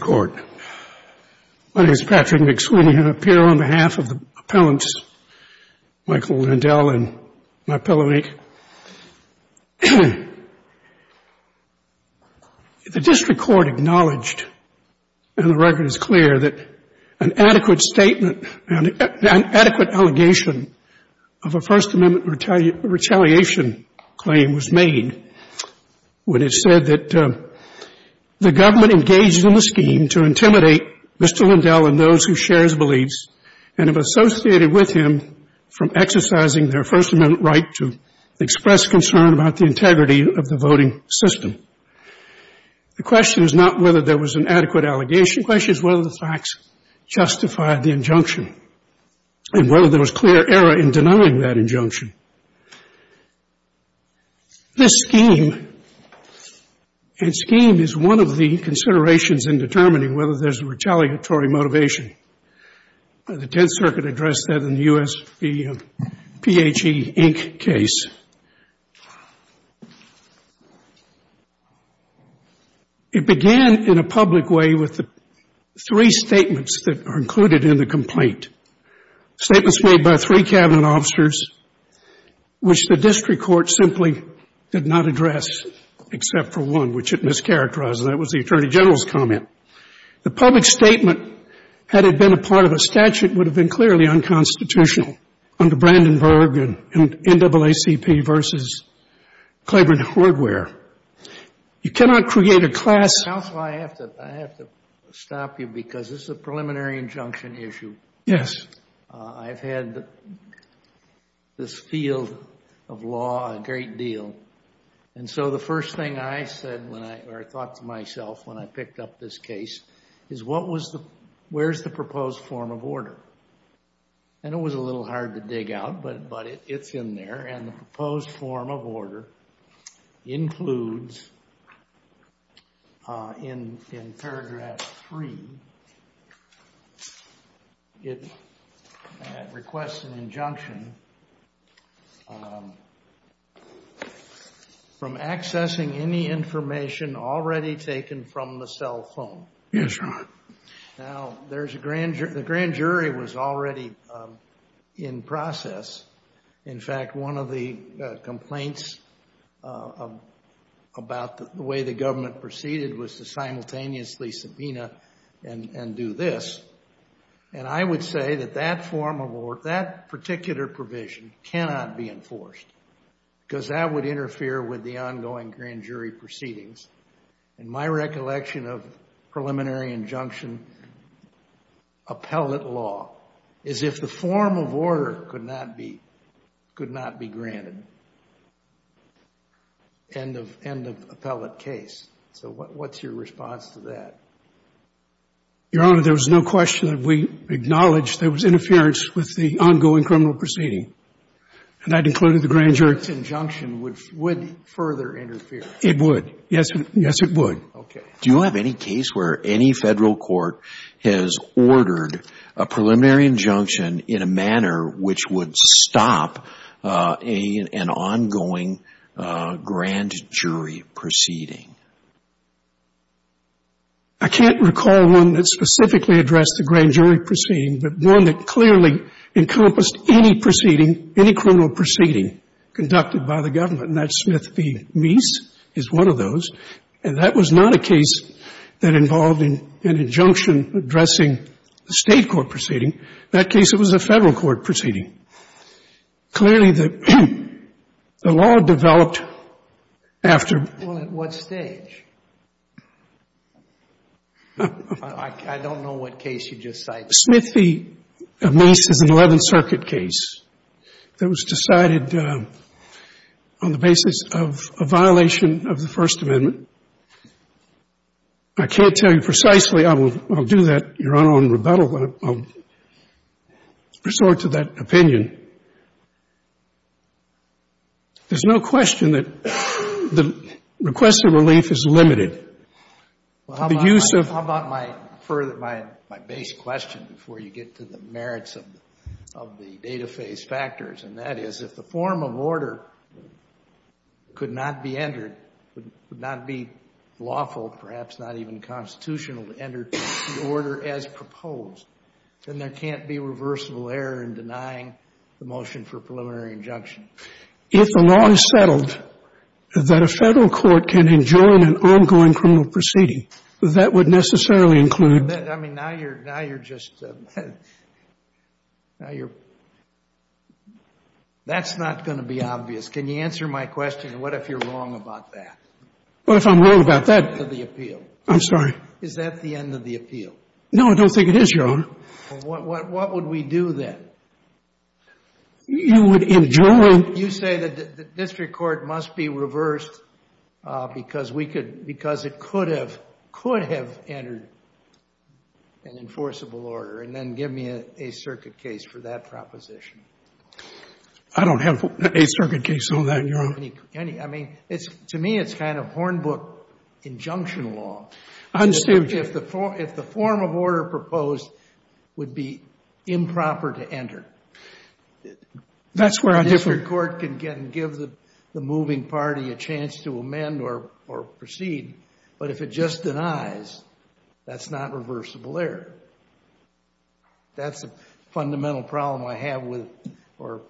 Court of Appeals. My name is Patrick McSweeney, and I appear on behalf of the appellants, Michael Lindell and my appellant, Nick. The district court acknowledged, and the record is clear, that an adequate statement, an adequate allegation of a First Amendment retaliation claim was made when it said that the government engaged in the scheme to intimidate Mr. Lindell and those who share his beliefs and have associated with him from exercising their First Amendment right to express concern about the integrity of the voting system. The question is not whether there was an adequate allegation. The question is whether the facts justified the injunction and whether there was clear error in denying that injunction. This scheme and scheme is one of the considerations in determining whether there's a retaliatory motivation. The Tenth Circuit addressed that in the U.S., the PHE, Inc. case. It began in a public way with the three statements that are included in the complaint, statements made by three Cabinet officers, which the district court simply did not address except for one, which it mischaracterized, and that was the Attorney General's comment. The public statement, had it been a part of a statute, would have been clearly unconstitutional under Brandenburg and NAACP versus Clyburn Hardware. You cannot create a class... Counsel, I have to stop you because this is a preliminary injunction issue. Yes. I've had this field of law a great deal, and so the first thing I said when I, or I thought to myself when I picked up this case is what was the, where's the proposed form of order? And it was a little hard to dig out, but it's in there, and the proposed form of order includes in paragraph three, it requests an injunction from accessing any information already taken from the cell phone. Yes, Your Honor. Now, there's a grand jury, the grand jury was already in process. In fact, one of the complaints about the way the government proceeded was to simultaneously subpoena and do this, and I would say that that form of, or that particular provision cannot be enforced because that would interfere with the ongoing grand jury proceedings. And my recollection of preliminary injunction appellate law is if the form of order could not be, could not be granted, end of, end of appellate case. So what's your response to that? Your Honor, there was no question that we acknowledged there was interference with the ongoing criminal proceeding, and that included the grand jury. This injunction would, would further interfere. It would. Yes, yes, it would. Okay. Do you have any case where any federal court has ordered a preliminary injunction in a manner which would stop an ongoing grand jury proceeding? I can't recall one that specifically addressed the grand jury proceeding, but one that clearly encompassed any proceeding, any criminal proceeding conducted by the government, and that was Smith v. Meese, is one of those. And that was not a case that involved an injunction addressing the State court proceeding. In that case, it was a Federal court proceeding. Clearly, the law developed after. Well, at what stage? I don't know what case you just cited. Smith v. Meese is an Eleventh Circuit case that was decided on the basis of the violation of the First Amendment. I can't tell you precisely. I will do that, Your Honor, on rebuttal, but I'll resort to that opinion. There's no question that the request of relief is limited. The use of. How about my base question before you get to the merits of the data phase factors, and that is, if the form of order could not be entered, would not be lawful, perhaps not even constitutional to enter the order as proposed, then there can't be reversible error in denying the motion for preliminary injunction. If the law is settled that a Federal court can adjourn an ongoing criminal proceeding, that would necessarily include. I mean, now you're just. Now you're. That's not going to be obvious. Can you answer my question? What if you're wrong about that? What if I'm wrong about that? Is that the end of the appeal? No, I don't think it is, Your Honor. What would we do then? You would adjourn. You say that the district court must be reversed because we could, because it could have entered an enforceable order, and then give me a circuit case for that proposition. I don't have a circuit case on that, Your Honor. I mean, to me, it's kind of Hornbook injunction law. I understand. If the form of order proposed would be improper to enter, that's where a district court can give the moving party a chance to amend or proceed. But if it just denies, that's not reversible error. That's a fundamental problem I have with, or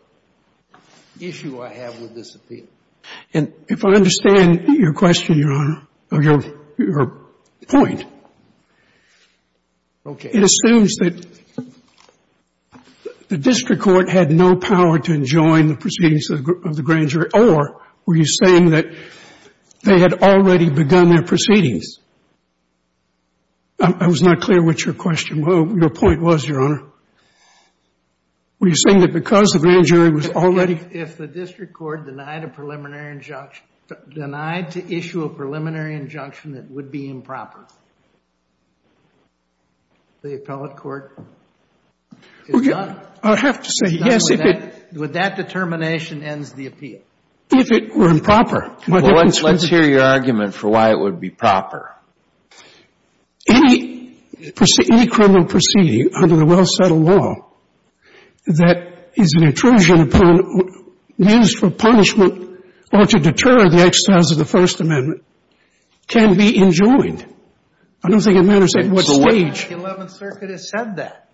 issue I have with this appeal. And if I understand your question, Your Honor, or your point, it assumes that the district court had no power to adjoin the proceedings of the grand jury, or were you saying that they had already begun their proceedings? I was not clear with your question. Well, your point was, Your Honor, were you saying that because the grand jury was already If the district court denied a preliminary injunction, denied to issue a preliminary injunction that would be improper, the appellate court is done. I have to say, yes, if it With that determination ends the appeal. If it were improper. Well, let's hear your argument for why it would be proper. Any criminal proceeding under the well-settled law that is an intrusion upon, used for punishment or to deter the exercise of the First Amendment can be enjoined. I don't think it matters at what stage. The Eleventh Circuit has said that.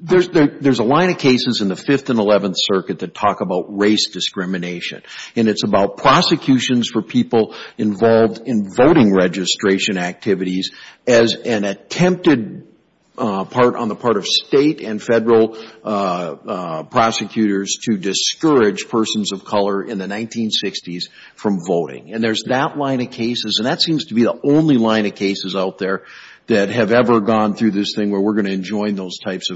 There's a line of cases in the Fifth and Eleventh Circuit that talk about race discrimination. And it's about prosecutions for people involved in voting registration activities as an attempted part on the part of state and federal prosecutors to discourage persons of color in the 1960s from voting. And there's that line of cases. And that seems to be the only line of cases out there that have ever gone through this thing where we're going to enjoin those types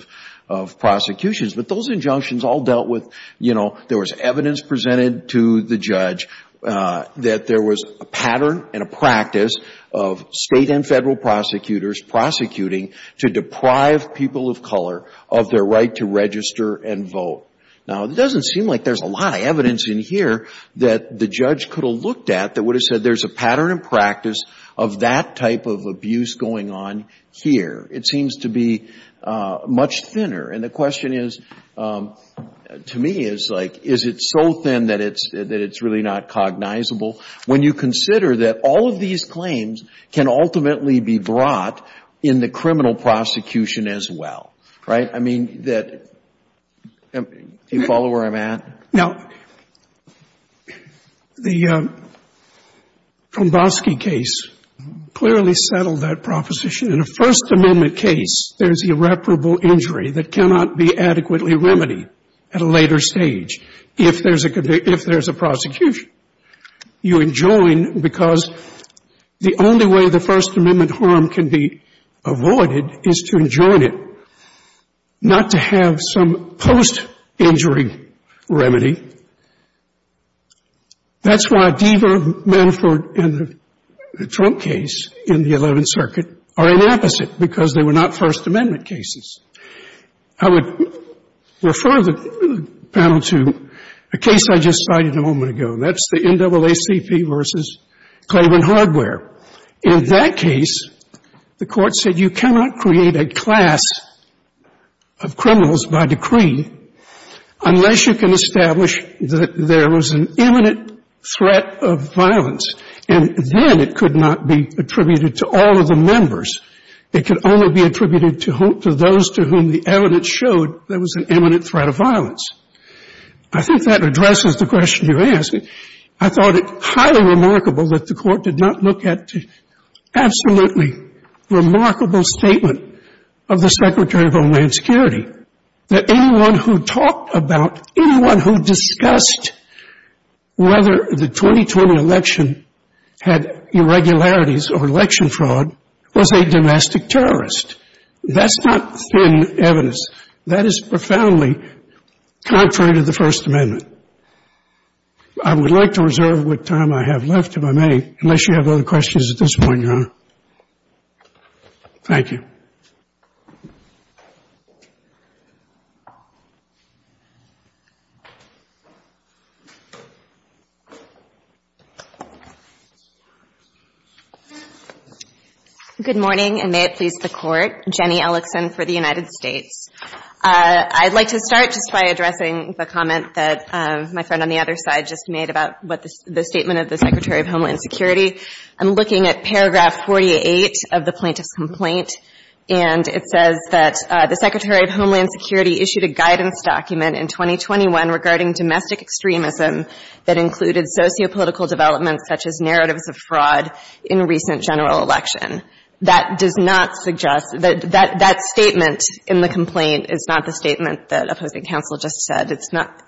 of prosecutions. But those injunctions all dealt with, you know, there was evidence presented to the judge that there was a pattern and a practice of state and federal prosecutors prosecuting to deprive people of color of their right to register and vote. Now, it doesn't seem like there's a lot of evidence in here that the judge could have looked at that would have said there's a pattern and practice of that type of abuse going on here. It seems to be much thinner. And the question is, to me, is like, is it so thin that it's really not cognizable when you consider that all of these claims can ultimately be brought in the criminal prosecution as well, right? I mean, that you follow where I'm at? Now, the Tromboski case clearly settled that proposition. In a First Amendment case, there's irreparable injury that cannot be adequately remedied at a later stage if there's a prosecution. You enjoin because the only way the First Amendment harm can be avoided is to enjoin it, not to have some post-injury remedy. That's why Deaver, Manafort, and the Trump case in the Eleventh Circuit are an opposite because they were not First Amendment cases. I would refer the panel to a case I just cited a moment ago, and that's the NAACP versus Claiborne Hardware. In that case, the Court said you cannot create a class of criminals by decree unless you can establish that there was an imminent threat of violence. And then it could not be attributed to all of the members. It could only be attributed to those to whom the evidence showed there was an imminent threat of violence. I think that addresses the question you asked. I thought it highly remarkable that the Court did not look at the absolutely remarkable statement of the Secretary of Homeland Security, that anyone who talked about, anyone who discussed whether the 2020 election had irregularities or election fraud was a domestic terrorist. That's not thin evidence. That is profoundly contrary to the First Amendment. I would like to reserve what time I have left, if I may, unless you have other questions at this point, Your Honor. Thank you. Good morning, and may it please the Court. Jenny Ellickson for the United States. I'd like to start just by addressing the comment that my friend on the other side just made about the statement of the Secretary of Homeland Security. I'm looking at paragraph 48 of the plaintiff's complaint, and it says that the Secretary of Homeland Security issued a guidance document in 2021 regarding domestic extremism that included sociopolitical developments such as narratives of fraud in recent general election. That does not suggest that that statement in the complaint is not the statement that opposing counsel just said. It's not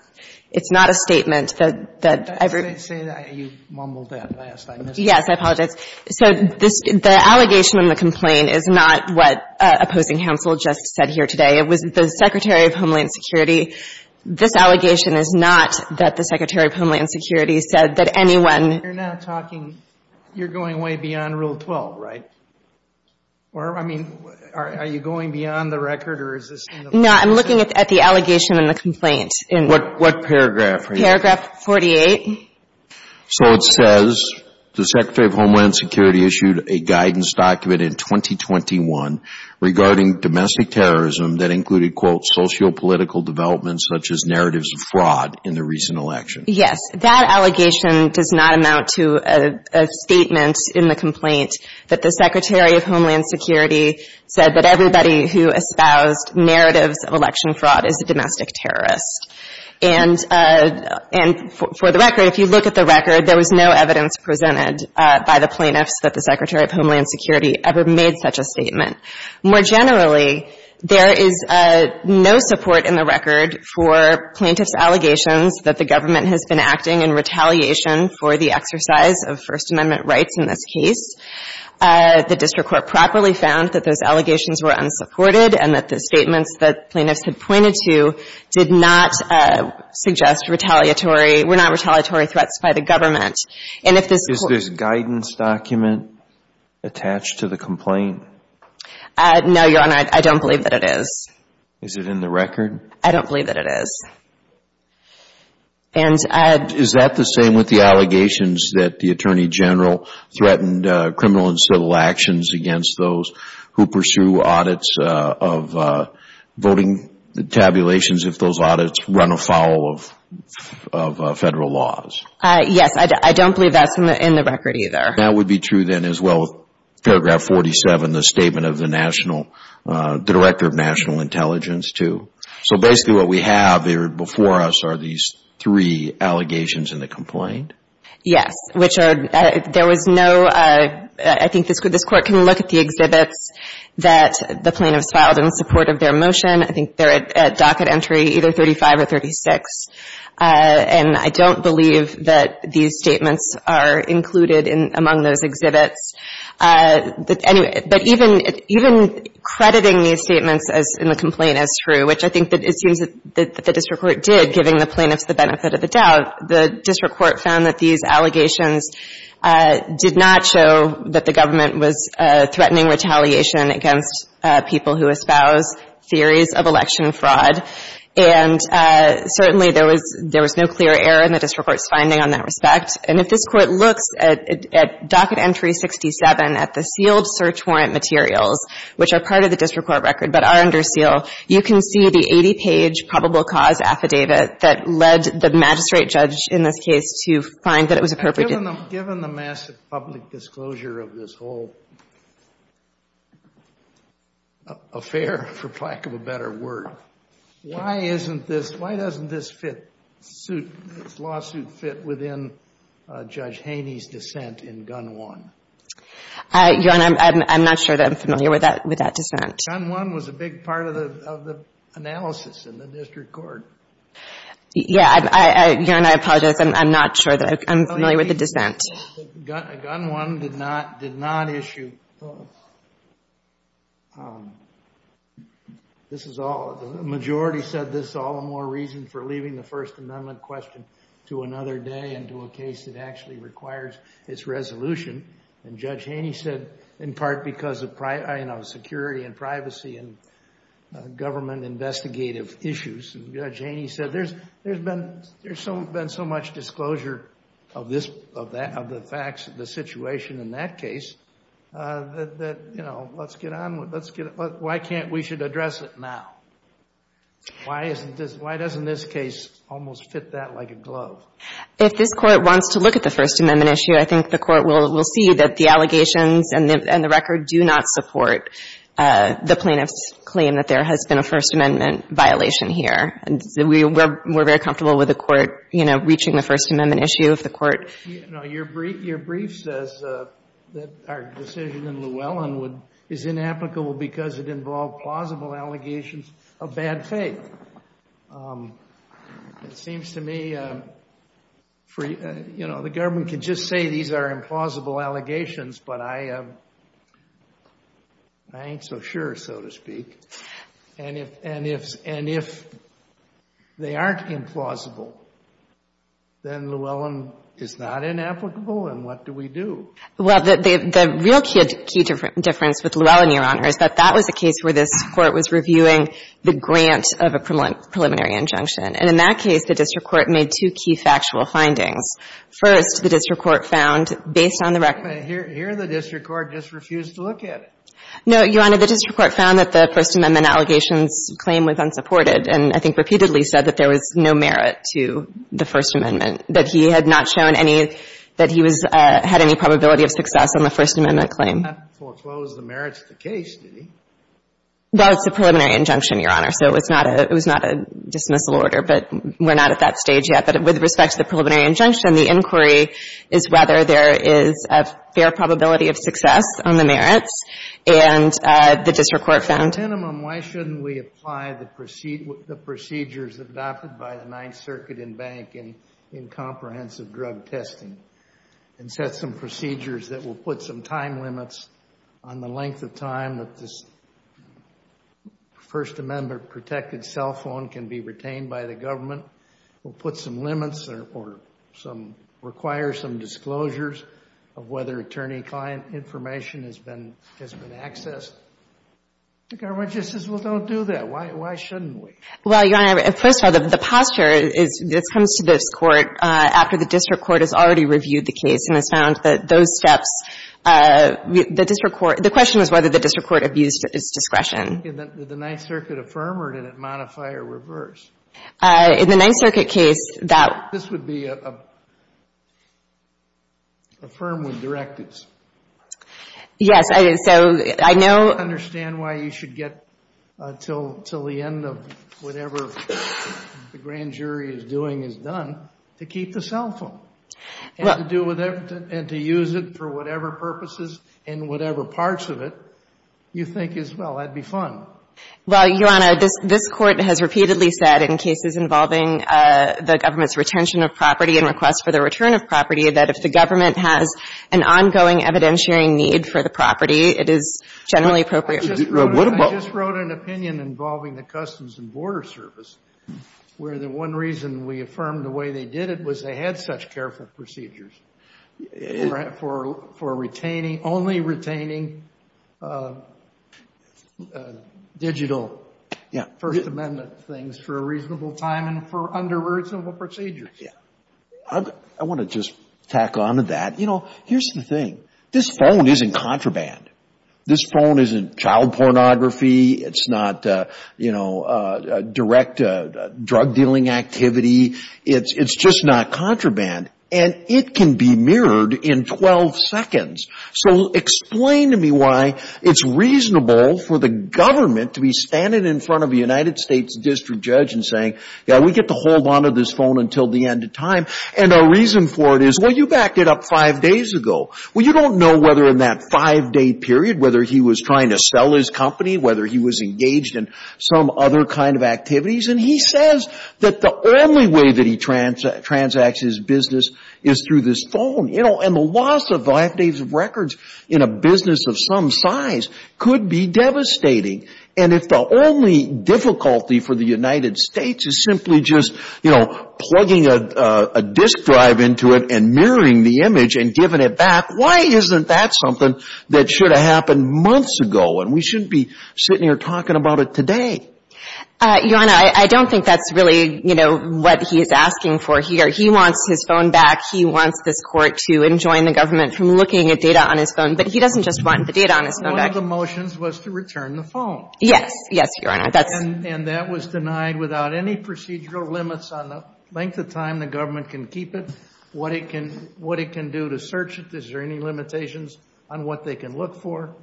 a statement that I've heard. Say that. You mumbled that last. I missed it. Yes, I apologize. So the allegation in the complaint is not what opposing counsel just said here today. It was the Secretary of Homeland Security. This allegation is not that the Secretary of Homeland Security said that anyone You're going way beyond Rule 12, right? I mean, are you going beyond the record? No, I'm looking at the allegation in the complaint. What paragraph are you looking at? Paragraph 48. So it says the Secretary of Homeland Security issued a guidance document in 2021 regarding domestic terrorism that included, quote, sociopolitical developments such as narratives of fraud in the recent election. Yes. That allegation does not amount to a statement in the complaint that the Secretary of Homeland Security said that everybody who espoused narratives of election fraud is a domestic terrorist. And for the record, if you look at the record, there was no evidence presented by the plaintiffs that the Secretary of Homeland Security ever made such a statement. More generally, there is no support in the record for plaintiffs' allegations that the plaintiffs were acting in retaliation for the exercise of First Amendment rights in this case. The district court properly found that those allegations were unsupported and that the statements that plaintiffs had pointed to did not suggest retaliatory – were not retaliatory threats by the government. And if this – Is this guidance document attached to the complaint? No, Your Honor. I don't believe that it is. Is it in the record? I don't believe that it is. And I – Is that the same with the allegations that the Attorney General threatened criminal and civil actions against those who pursue audits of voting tabulations if those audits run afoul of federal laws? Yes. I don't believe that's in the record either. That would be true then as well with paragraph 47, the statement of the national – the Director of National Intelligence, too. So basically what we have here before us are these three allegations in the complaint? Yes. Which are – there was no – I think this court can look at the exhibits that the plaintiffs filed in support of their motion. I think they're at docket entry either 35 or 36. And I don't believe that these statements are included in – among those exhibits. But anyway – but even – even crediting these statements as – in the complaint as true, which I think that it seems that the district court did, giving the plaintiffs the benefit of the doubt, the district court found that these allegations did not show that the government was threatening retaliation against people who espouse theories of election fraud. And certainly there was – there was no clear error in the district court's finding on that respect. And if this court looks at docket entry 67 at the sealed search warrant materials, which are part of the district court record but are under seal, you can see the 80-page probable cause affidavit that led the magistrate judge in this case to find that it was appropriate. Given the massive public disclosure of this whole affair, for lack of a better word, why isn't this – why doesn't this fit – lawsuit fit within Judge Haney's dissent in Gun 1? Your Honor, I'm not sure that I'm familiar with that – with that dissent. Gun 1 was a big part of the – of the analysis in the district court. Yeah. Your Honor, I apologize. I'm not sure that I'm familiar with the dissent. Gun 1 did not issue – this is all – the majority said this is all the more reason for leaving the First Amendment question to another day and to a case that actually requires its resolution. And Judge Haney said in part because of, you know, security and privacy and government investigative issues. And Judge Haney said there's – there's been – there's been so much disclosure of this – of that – of the facts of the situation in that case that, you know, let's get on with – let's get – why can't we should address it now? Why isn't this – why doesn't this case almost fit that like a glove? If this Court wants to look at the First Amendment issue, I think the Court will see that the allegations and the record do not support the plaintiff's claim that there has been a First Amendment violation here. We're very comfortable with the Court, you know, reaching the First Amendment issue if the Court – No, your brief – your brief says that our decision in Llewellyn would – is inapplicable because it involved plausible allegations of bad faith. It seems to me for – you know, the government can just say these are implausible allegations, but I – I ain't so sure, so to speak. And if – and if – and if they aren't implausible, then Llewellyn is not inapplicable and what do we do? Well, the – the real key difference with Llewellyn, Your Honor, is that that was a case where this Court was reviewing the grant of a preliminary injunction. And in that case, the district court made two key factual findings. First, the district court found, based on the record – Here the district court just refused to look at it. No, Your Honor, the district court found that the First Amendment allegations claim was unsupported and I think repeatedly said that there was no merit to the First Amendment, that he had not shown any – that he was – had any probability of success on the First Amendment claim. He didn't foreclose the merits of the case, did he? Well, it's a preliminary injunction, Your Honor, so it's not a – it was not a dismissal order, but we're not at that stage yet. But with respect to the preliminary injunction, the inquiry is whether there is a fair probability of success on the merits and the district court found – At a minimum, why shouldn't we apply the procedures adopted by the Ninth Circuit and bank in comprehensive drug testing and set some procedures that will put some time limits on the length of time that this First Amendment-protected cell phone can be retained by the government. We'll put some limits or some – require some disclosures of whether attorney-client information has been accessed. The government just says, well, don't do that. Why shouldn't we? Well, Your Honor, first of all, the posture is – comes to this court after the district court has already reviewed the case and has found that those steps – the district court – the question is whether the district court abused its discretion. Did the Ninth Circuit affirm or did it modify or reverse? In the Ninth Circuit case, that – This would be a – affirm with directives. Yes, it is. So I know – I don't understand why you should get until the end of whatever the grand jury is doing is done to keep the cell phone and to do whatever – and to use it for whatever purposes and whatever parts of it you think is – well, that would be fine. Well, Your Honor, this – this court has repeatedly said in cases involving the government's retention of property and request for the return of property that if the government has an ongoing evidentiary need for the property, it is generally appropriate. I just wrote an opinion involving the Customs and Border Service where the one reason we affirmed the way they did it was they had such careful procedures for retaining – only retaining digital First Amendment things for a reasonable time and for unreasonable procedures. I want to just tack on to that. You know, here's the thing. This phone isn't contraband. This phone isn't child pornography. It's not, you know, direct drug dealing activity. It's just not contraband. And it can be mirrored in 12 seconds. So explain to me why it's reasonable for the government to be standing in front of a United States district judge and saying, yeah, we get to hold on to this phone until the end of time. And a reason for it is, well, you backed it up five days ago. Well, you don't know whether in that five-day period, whether he was trying to sell his company, whether he was engaged in some other kind of activities. And he says that the only way that he transacts his business is through this phone. You know, and the loss of five days of records in a business of some size could be devastating. And if the only difficulty for the United States is simply just, you know, plugging a disk drive into it and mirroring the image and giving it back, why isn't that something that should have happened months ago? And we shouldn't be sitting here talking about it today. Your Honor, I don't think that's really, you know, what he's asking for here. He wants his phone back. He wants this Court to enjoin the government from looking at data on his phone. But he doesn't just want the data on his phone back. One of the motions was to return the phone. Yes. Yes, Your Honor. And that was denied without any procedural limits on the length of time the government can keep it, what it can do to search it. Is there any limitations on what they can look for?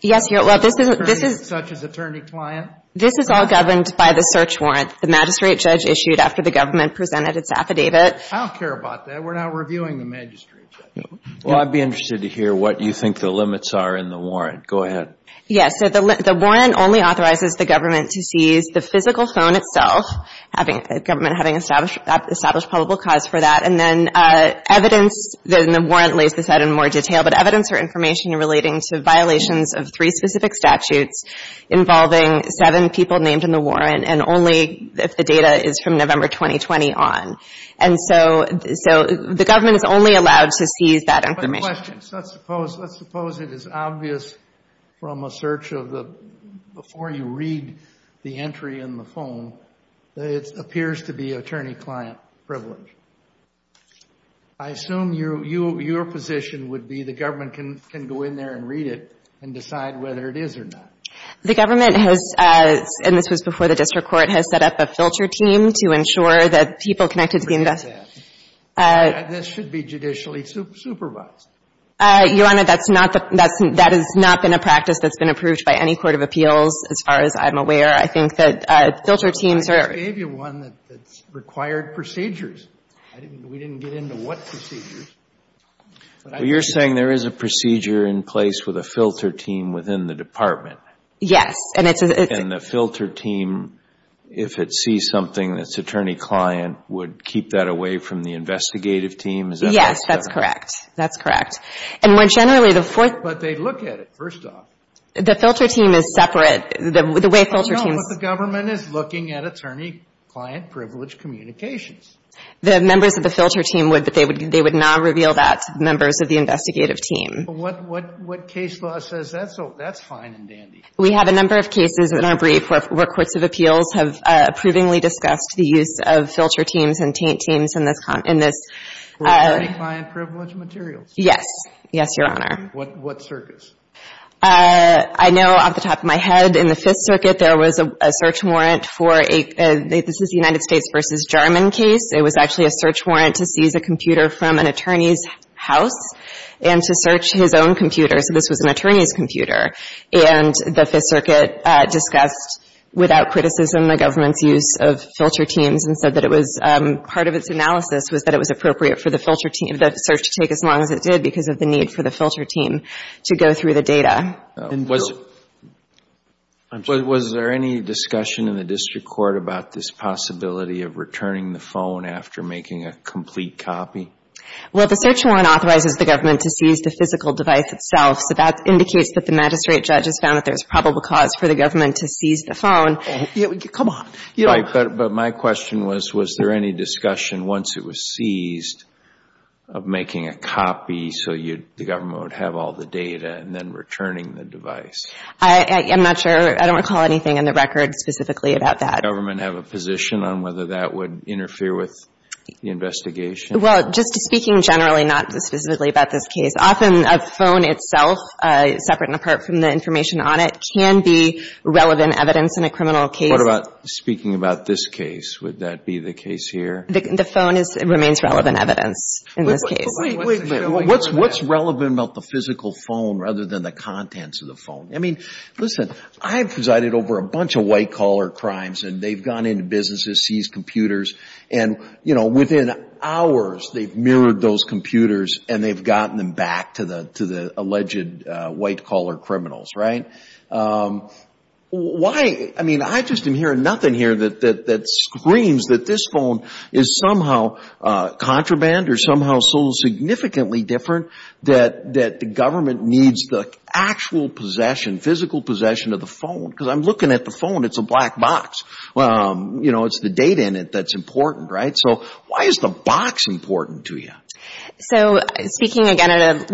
Yes, Your Honor. Well, this is — Such as attorney-client? This is all governed by the search warrant. The magistrate judge issued after the government presented its affidavit. I don't care about that. We're not reviewing the magistrate judge. Well, I'd be interested to hear what you think the limits are in the warrant. Go ahead. Yes. So the warrant only authorizes the government to seize the physical phone itself, the government having established probable cause for that. And then evidence in the warrant lays this out in more detail. But evidence or information relating to violations of three specific statutes involving seven people named in the warrant and only if the data is from November 2020 on. And so the government is only allowed to seize that information. But questions. Let's suppose it is obvious from a search of the — before you read the entry in the phone that it appears to be attorney-client privilege. I assume your position would be the government can go in there and read it and decide whether it is or not. The government has — and this was before the district court — has set up a filter team to ensure that people connected to the invest — This should be judicially supervised. Your Honor, that's not the — that has not been a practice that's been approved by any court of appeals, as far as I'm aware. I think that filter teams are — I gave you one that's required procedures. We didn't get into what procedures. You're saying there is a procedure in place with a filter team within the department? Yes. And the filter team, if it sees something that's attorney-client, would keep that away from the investigative team? Yes, that's correct. That's correct. And more generally, the — But they look at it, first off. The filter team is separate. The way filter teams — But the government is looking at attorney-client privilege communications. The members of the filter team would, but they would not reveal that to the members of the investigative team. But what case law says that? So that's fine and dandy. We have a number of cases in our brief where courts of appeals have approvingly discussed the use of filter teams and taint teams in this — For attorney-client privilege materials? Yes. Yes, Your Honor. What circuits? I know off the top of my head, in the Fifth Circuit, there was a search warrant for a — This is the United States v. Jarman case. It was actually a search warrant to seize a computer from an attorney's house and to search his own computer. So this was an attorney's computer. And the Fifth Circuit discussed, without criticism, the government's use of filter teams and said that it was — part of its analysis was that it was appropriate for the filter team — for the search to take as long as it did because of the need for the filter team to go through the data. Was — Was there any discussion in the district court about this possibility of returning the phone after making a complete copy? Well, the search warrant authorizes the government to seize the physical device itself, so that indicates that the magistrate judges found that there's probable cause for the government to seize the phone. Come on. But my question was, was there any discussion, once it was seized, of making a copy so the government would have all the data and then returning the device? I'm not sure. I don't recall anything in the record specifically about that. Does the government have a position on whether that would interfere with the investigation? Well, just speaking generally, not specifically about this case, often a phone itself, separate and apart from the information on it, can be relevant evidence in a criminal case. What about speaking about this case? Would that be the case here? The phone remains relevant evidence in this case. Wait, wait, wait. What's relevant about the physical phone rather than the contents of the phone? I mean, listen, I've presided over a bunch of white-collar crimes, and they've gone into businesses, seized computers, and, you know, within hours they've mirrored those computers, and they've gotten them back to the alleged white-collar criminals, right? Why? I mean, I just am hearing nothing here that screams that this phone is somehow contraband or somehow so significantly different that the government needs the actual possession, physical possession of the phone. Because I'm looking at the phone. It's a black box. You know, it's the data in it that's important, right? So why is the box important to you? So speaking again at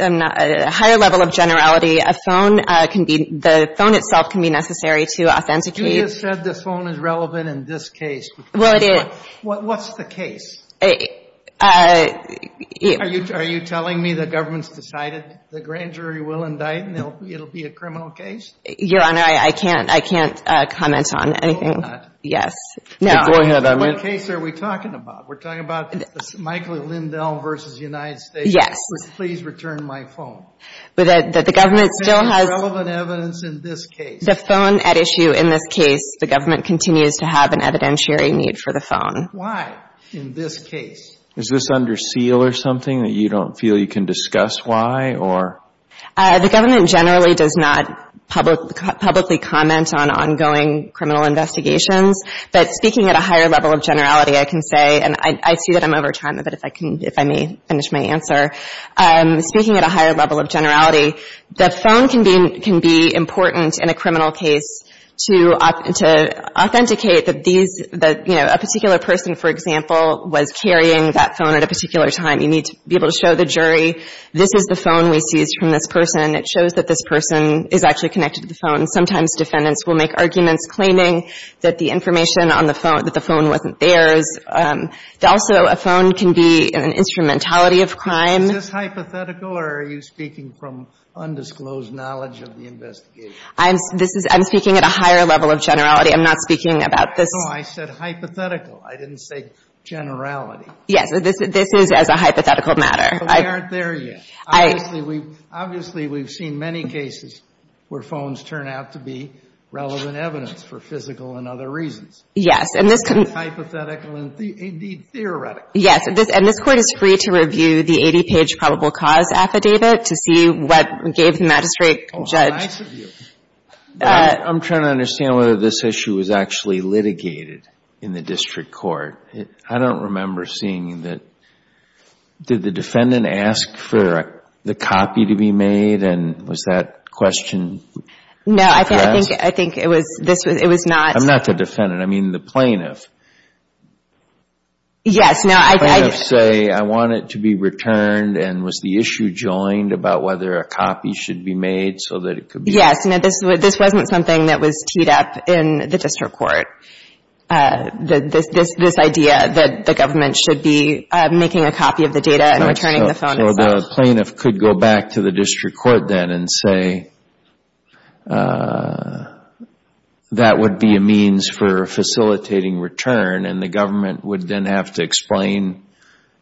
a higher level of generality, a phone can be the phone itself can be necessary to authenticate. You just said the phone is relevant in this case. Well, it is. What's the case? Are you telling me the government's decided the grand jury will indict, and it will be a criminal case? Your Honor, I can't comment on anything. Go ahead, I mean. What case are we talking about? We're talking about Michael Lindell v. United States. Yes. Please return my phone. The government still has... Relevant evidence in this case. The phone at issue in this case. The government continues to have an evidentiary need for the phone. Why in this case? Is this under seal or something that you don't feel you can discuss why? The government generally does not publicly comment on ongoing criminal investigations. But speaking at a higher level of generality, I can say, and I see that I'm over time a bit if I may finish my answer. Speaking at a higher level of generality, the phone can be important in a criminal case to authenticate that these, you know, a particular person, for example, was carrying that phone at a particular time. You need to be able to show the jury this is the phone we seized from this person, and it shows that this person is actually connected to the phone. And sometimes defendants will make arguments claiming that the information on the phone, that the phone wasn't theirs. Also, a phone can be an instrumentality of crime. Is this hypothetical or are you speaking from undisclosed knowledge of the investigation? I'm speaking at a higher level of generality. I'm not speaking about this. No, I said hypothetical. I didn't say generality. Yes. This is as a hypothetical matter. But they aren't there yet. Obviously, we've seen many cases where phones turn out to be relevant evidence for physical and other reasons. Yes. Hypothetical and, indeed, theoretical. Yes. And this Court is free to review the 80-page probable cause affidavit to see what gave the magistrate judge. Oh, nice of you. I'm trying to understand whether this issue was actually litigated in the district court. I don't remember seeing that. Did the defendant ask for the copy to be made and was that questioned? No. I think it was not. I'm not the defendant. I mean the plaintiff. Yes. The plaintiff say, I want it to be returned and was the issue joined about whether a copy should be made so that it could be returned? Yes. This wasn't something that was teed up in the district court. This idea that the government should be making a copy of the data and returning the phone itself. So the plaintiff could go back to the district court then and say that would be a means for facilitating return and the government would then have to explain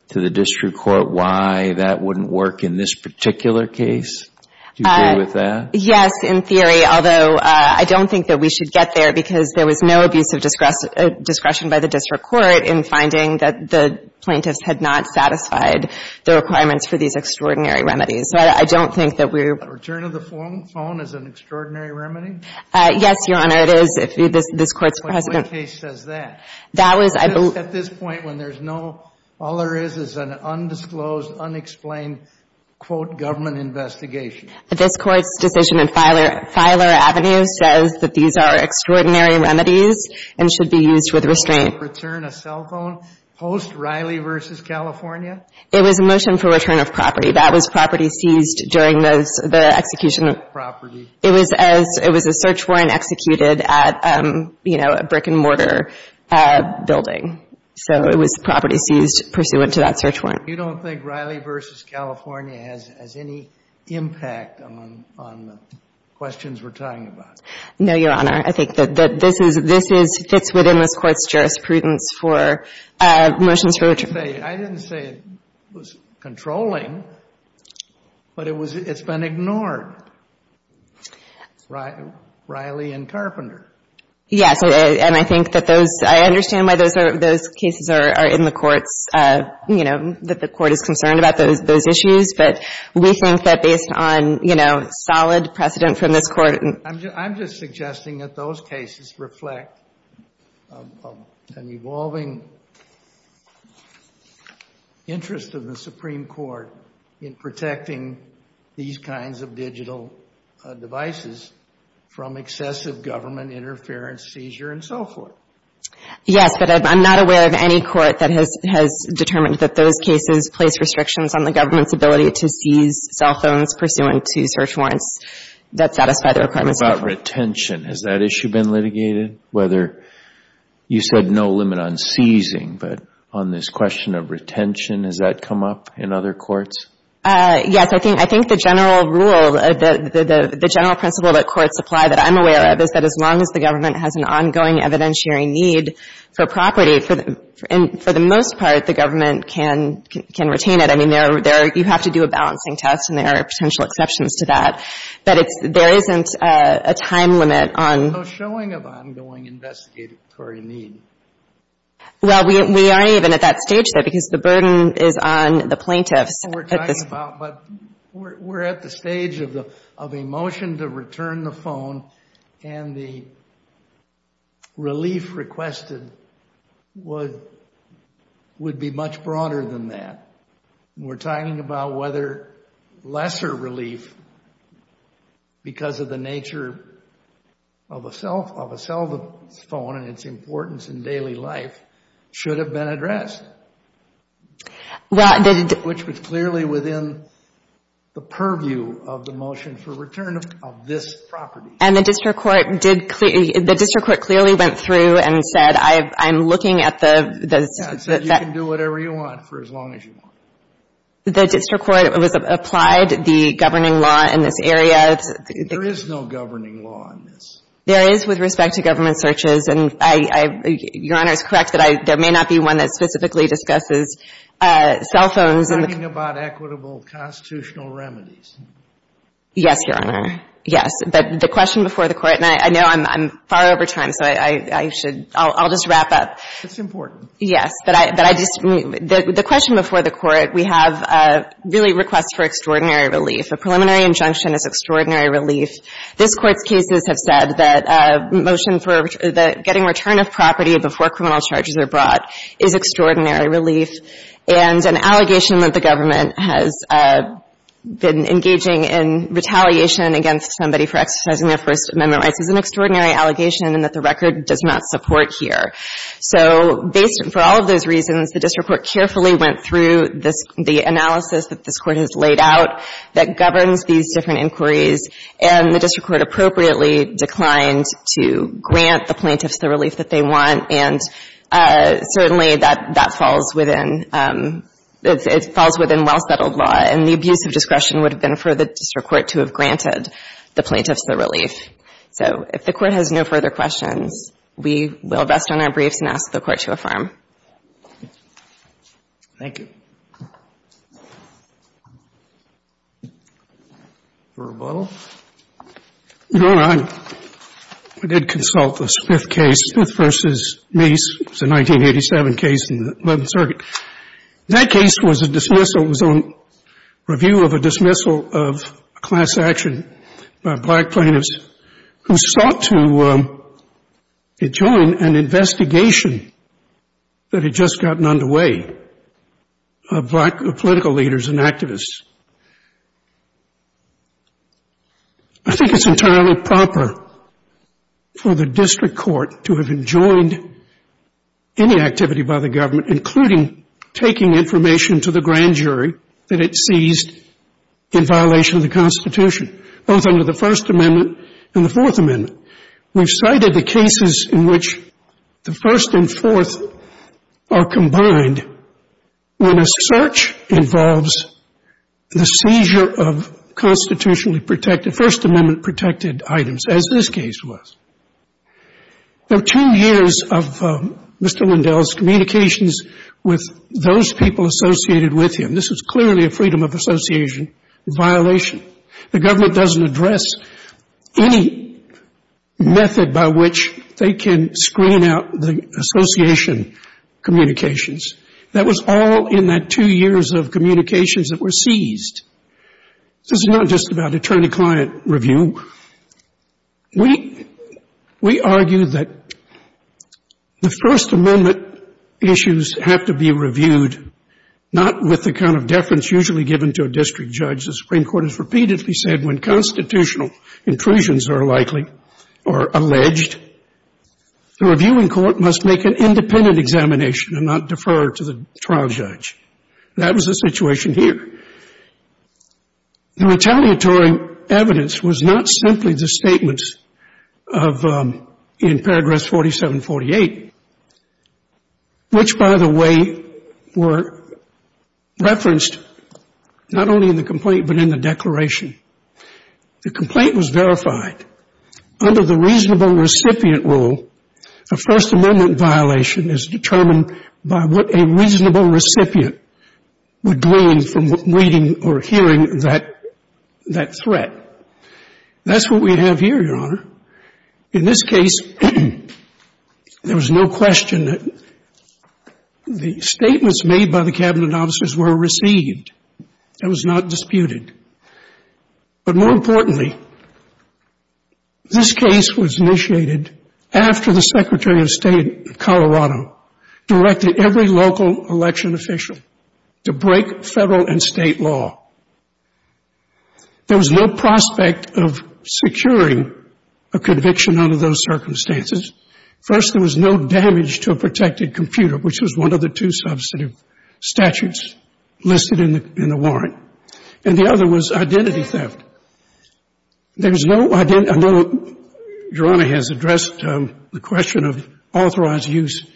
to the district court why that wouldn't work in this particular case? Do you agree with that? Yes, in theory. Although I don't think that we should get there because there was no abusive discretion by the district court in finding that the plaintiffs had not satisfied the requirements for these extraordinary remedies. So I don't think that we're. Return of the phone is an extraordinary remedy? Yes, Your Honor. It is. This Court's precedent. What case says that? That was. At this point when there's no. All there is is an undisclosed, unexplained, quote, government investigation. This Court's decision in Filer Avenue says that these are extraordinary remedies and should be used with restraint. Return a cell phone post Riley v. California? It was a motion for return of property. That was property seized during the execution. Property. It was as. It was a search warrant executed at, you know, a brick and mortar building. So it was property seized pursuant to that search warrant. You don't think Riley v. California has any impact on the questions we're talking about? No, Your Honor. I think that this is. This fits within this Court's jurisprudence for motions for. I didn't say it was controlling, but it's been ignored. Riley and Carpenter. Yes. I understand why those cases are in the courts. You know, that the Court is concerned about those issues. But we think that based on, you know, solid precedent from this Court. I'm just suggesting that those cases reflect an evolving interest of the Supreme Court in protecting these kinds of digital devices from excessive government interference, seizure, and so forth. Yes. But I'm not aware of any court that has determined that those cases place restrictions on the government's ability to seize cell phones pursuant to search warrants that satisfy the requirements. What about retention? Has that issue been litigated? Whether. You said no limit on seizing. But on this question of retention, has that come up in other courts? Yes. I think the general rule. The general principle that courts apply, that I'm aware of, is that as long as the government has an ongoing evidentiary need for property, for the most part, the government can retain it. I mean, you have to do a balancing test, and there are potential exceptions to that. But there isn't a time limit on. No showing of ongoing investigatory need. Well, we aren't even at that stage yet, because the burden is on the plaintiffs. But we're at the stage of a motion to return the phone, and the relief requested would be much broader than that. We're talking about whether lesser relief, because of the nature of a cell phone and its importance in daily life, should have been addressed. Which was clearly within the purview of the motion for return of this property. And the district court did clearly — the district court clearly went through and said, I'm looking at the — It said you can do whatever you want for as long as you want. The district court applied the governing law in this area. There is no governing law in this. There is with respect to government searches. Your Honor, it's correct that there may not be one that specifically discusses cell phones. We're talking about equitable constitutional remedies. Yes, Your Honor. Yes. But the question before the Court — and I know I'm far over time, so I should — I'll just wrap up. It's important. Yes. But I just — the question before the Court, we have really requests for extraordinary relief. A preliminary injunction is extraordinary relief. This Court's cases have said that a motion for getting return of property before criminal charges are brought is extraordinary relief. And an allegation that the government has been engaging in retaliation against somebody for exercising their First Amendment rights is an extraordinary allegation and that the record does not support here. So based — for all of those reasons, the district court carefully went through the analysis that this Court has laid out that governs these different inquiries. And the district court appropriately declined to grant the plaintiffs the relief that they want. And certainly, that falls within — it falls within well-settled law. And the abuse of discretion would have been for the district court to have granted the plaintiffs the relief. So if the Court has no further questions, we will rest on our briefs and ask the Court to affirm. Thank you. For rebuttal? Your Honor, I did consult this fifth case, Smith v. Mace. It was a 1987 case in the 11th Circuit. That case was a dismissal. It was a review of a dismissal of a class action by black plaintiffs who sought to black political leaders and activists. I think it's entirely proper for the district court to have enjoined any activity by the government, including taking information to the grand jury that it seized in violation of the Constitution, both under the First Amendment and the Fourth Amendment. We've cited the cases in which the First and Fourth are combined when a search involves the seizure of constitutionally protected, First Amendment-protected items, as this case was. There are two years of Mr. Lindell's communications with those people associated with him. This is clearly a freedom of association violation. The government doesn't address any method by which they can screen out the association communications. That was all in that two years of communications that were seized. This is not just about attorney-client review. We argue that the First Amendment issues have to be reviewed, not with the kind of deference usually given to a district judge. The Supreme Court has repeatedly said when constitutional intrusions are likely or alleged, the reviewing court must make an independent examination and not defer to the trial judge. That was the situation here. The retaliatory evidence was not simply the statements of, in Paragraph 4748, which, by the way, were referenced not only in the complaint but in the declaration. The complaint was verified. Under the reasonable recipient rule, a First Amendment violation is determined by what a reasonable recipient would glean from reading or hearing that threat. That's what we have here, Your Honor. In this case, there was no question that the statements made by the Cabinet officers were received. It was not disputed. But more importantly, this case was initiated after the Secretary of State of Colorado directed every local election official to break Federal and State law. There was no prospect of securing a conviction under those circumstances. First, there was no damage to a protected computer, which was one of the two substantive statutes listed in the warrant. And the other was identity theft. There was no identity theft. I know Your Honor has addressed the question of authorized use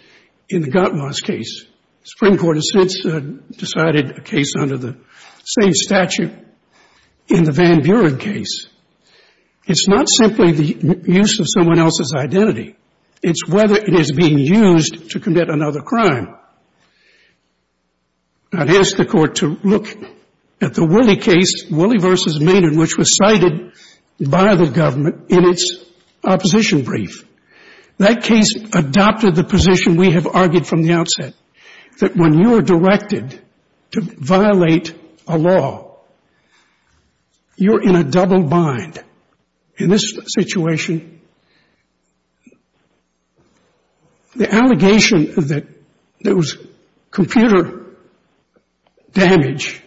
in the Gottlob's case. The Supreme Court has since decided a case under the same statute in the Van Buren case. It's not simply the use of someone else's identity. It's whether it is being used to commit another crime. I'd ask the Court to look at the Woolley case, Woolley v. Maynard, which was cited by the government in its opposition brief. That case adopted the position we have argued from the outset, that when you are directed to violate a law, you're in a double bind. In this situation, the allegation that there was computer damage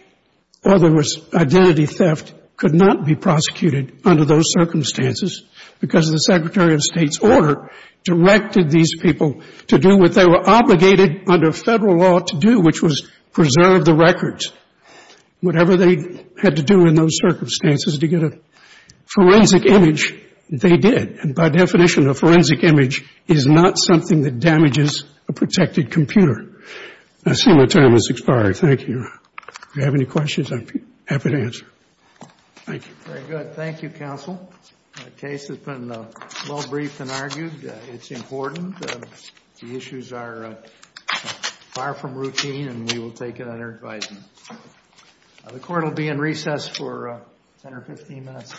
or there was identity theft could not be prosecuted under those circumstances because the Secretary of State's order directed these people to do what they were obligated under Federal law to do, which was preserve the records. Whatever they had to do in those circumstances to get a forensic image, they did. And by definition, a forensic image is not something that damages a protected computer. I see my time has expired. Thank you, Your Honor. If you have any questions, I'm happy to answer. Thank you. Very good. Thank you, Counsel. The case has been well briefed and argued. It's important. The issues are far from routine, and we will take it under advisement. The Court will be in recess for 10 or 15 minutes. Thank you.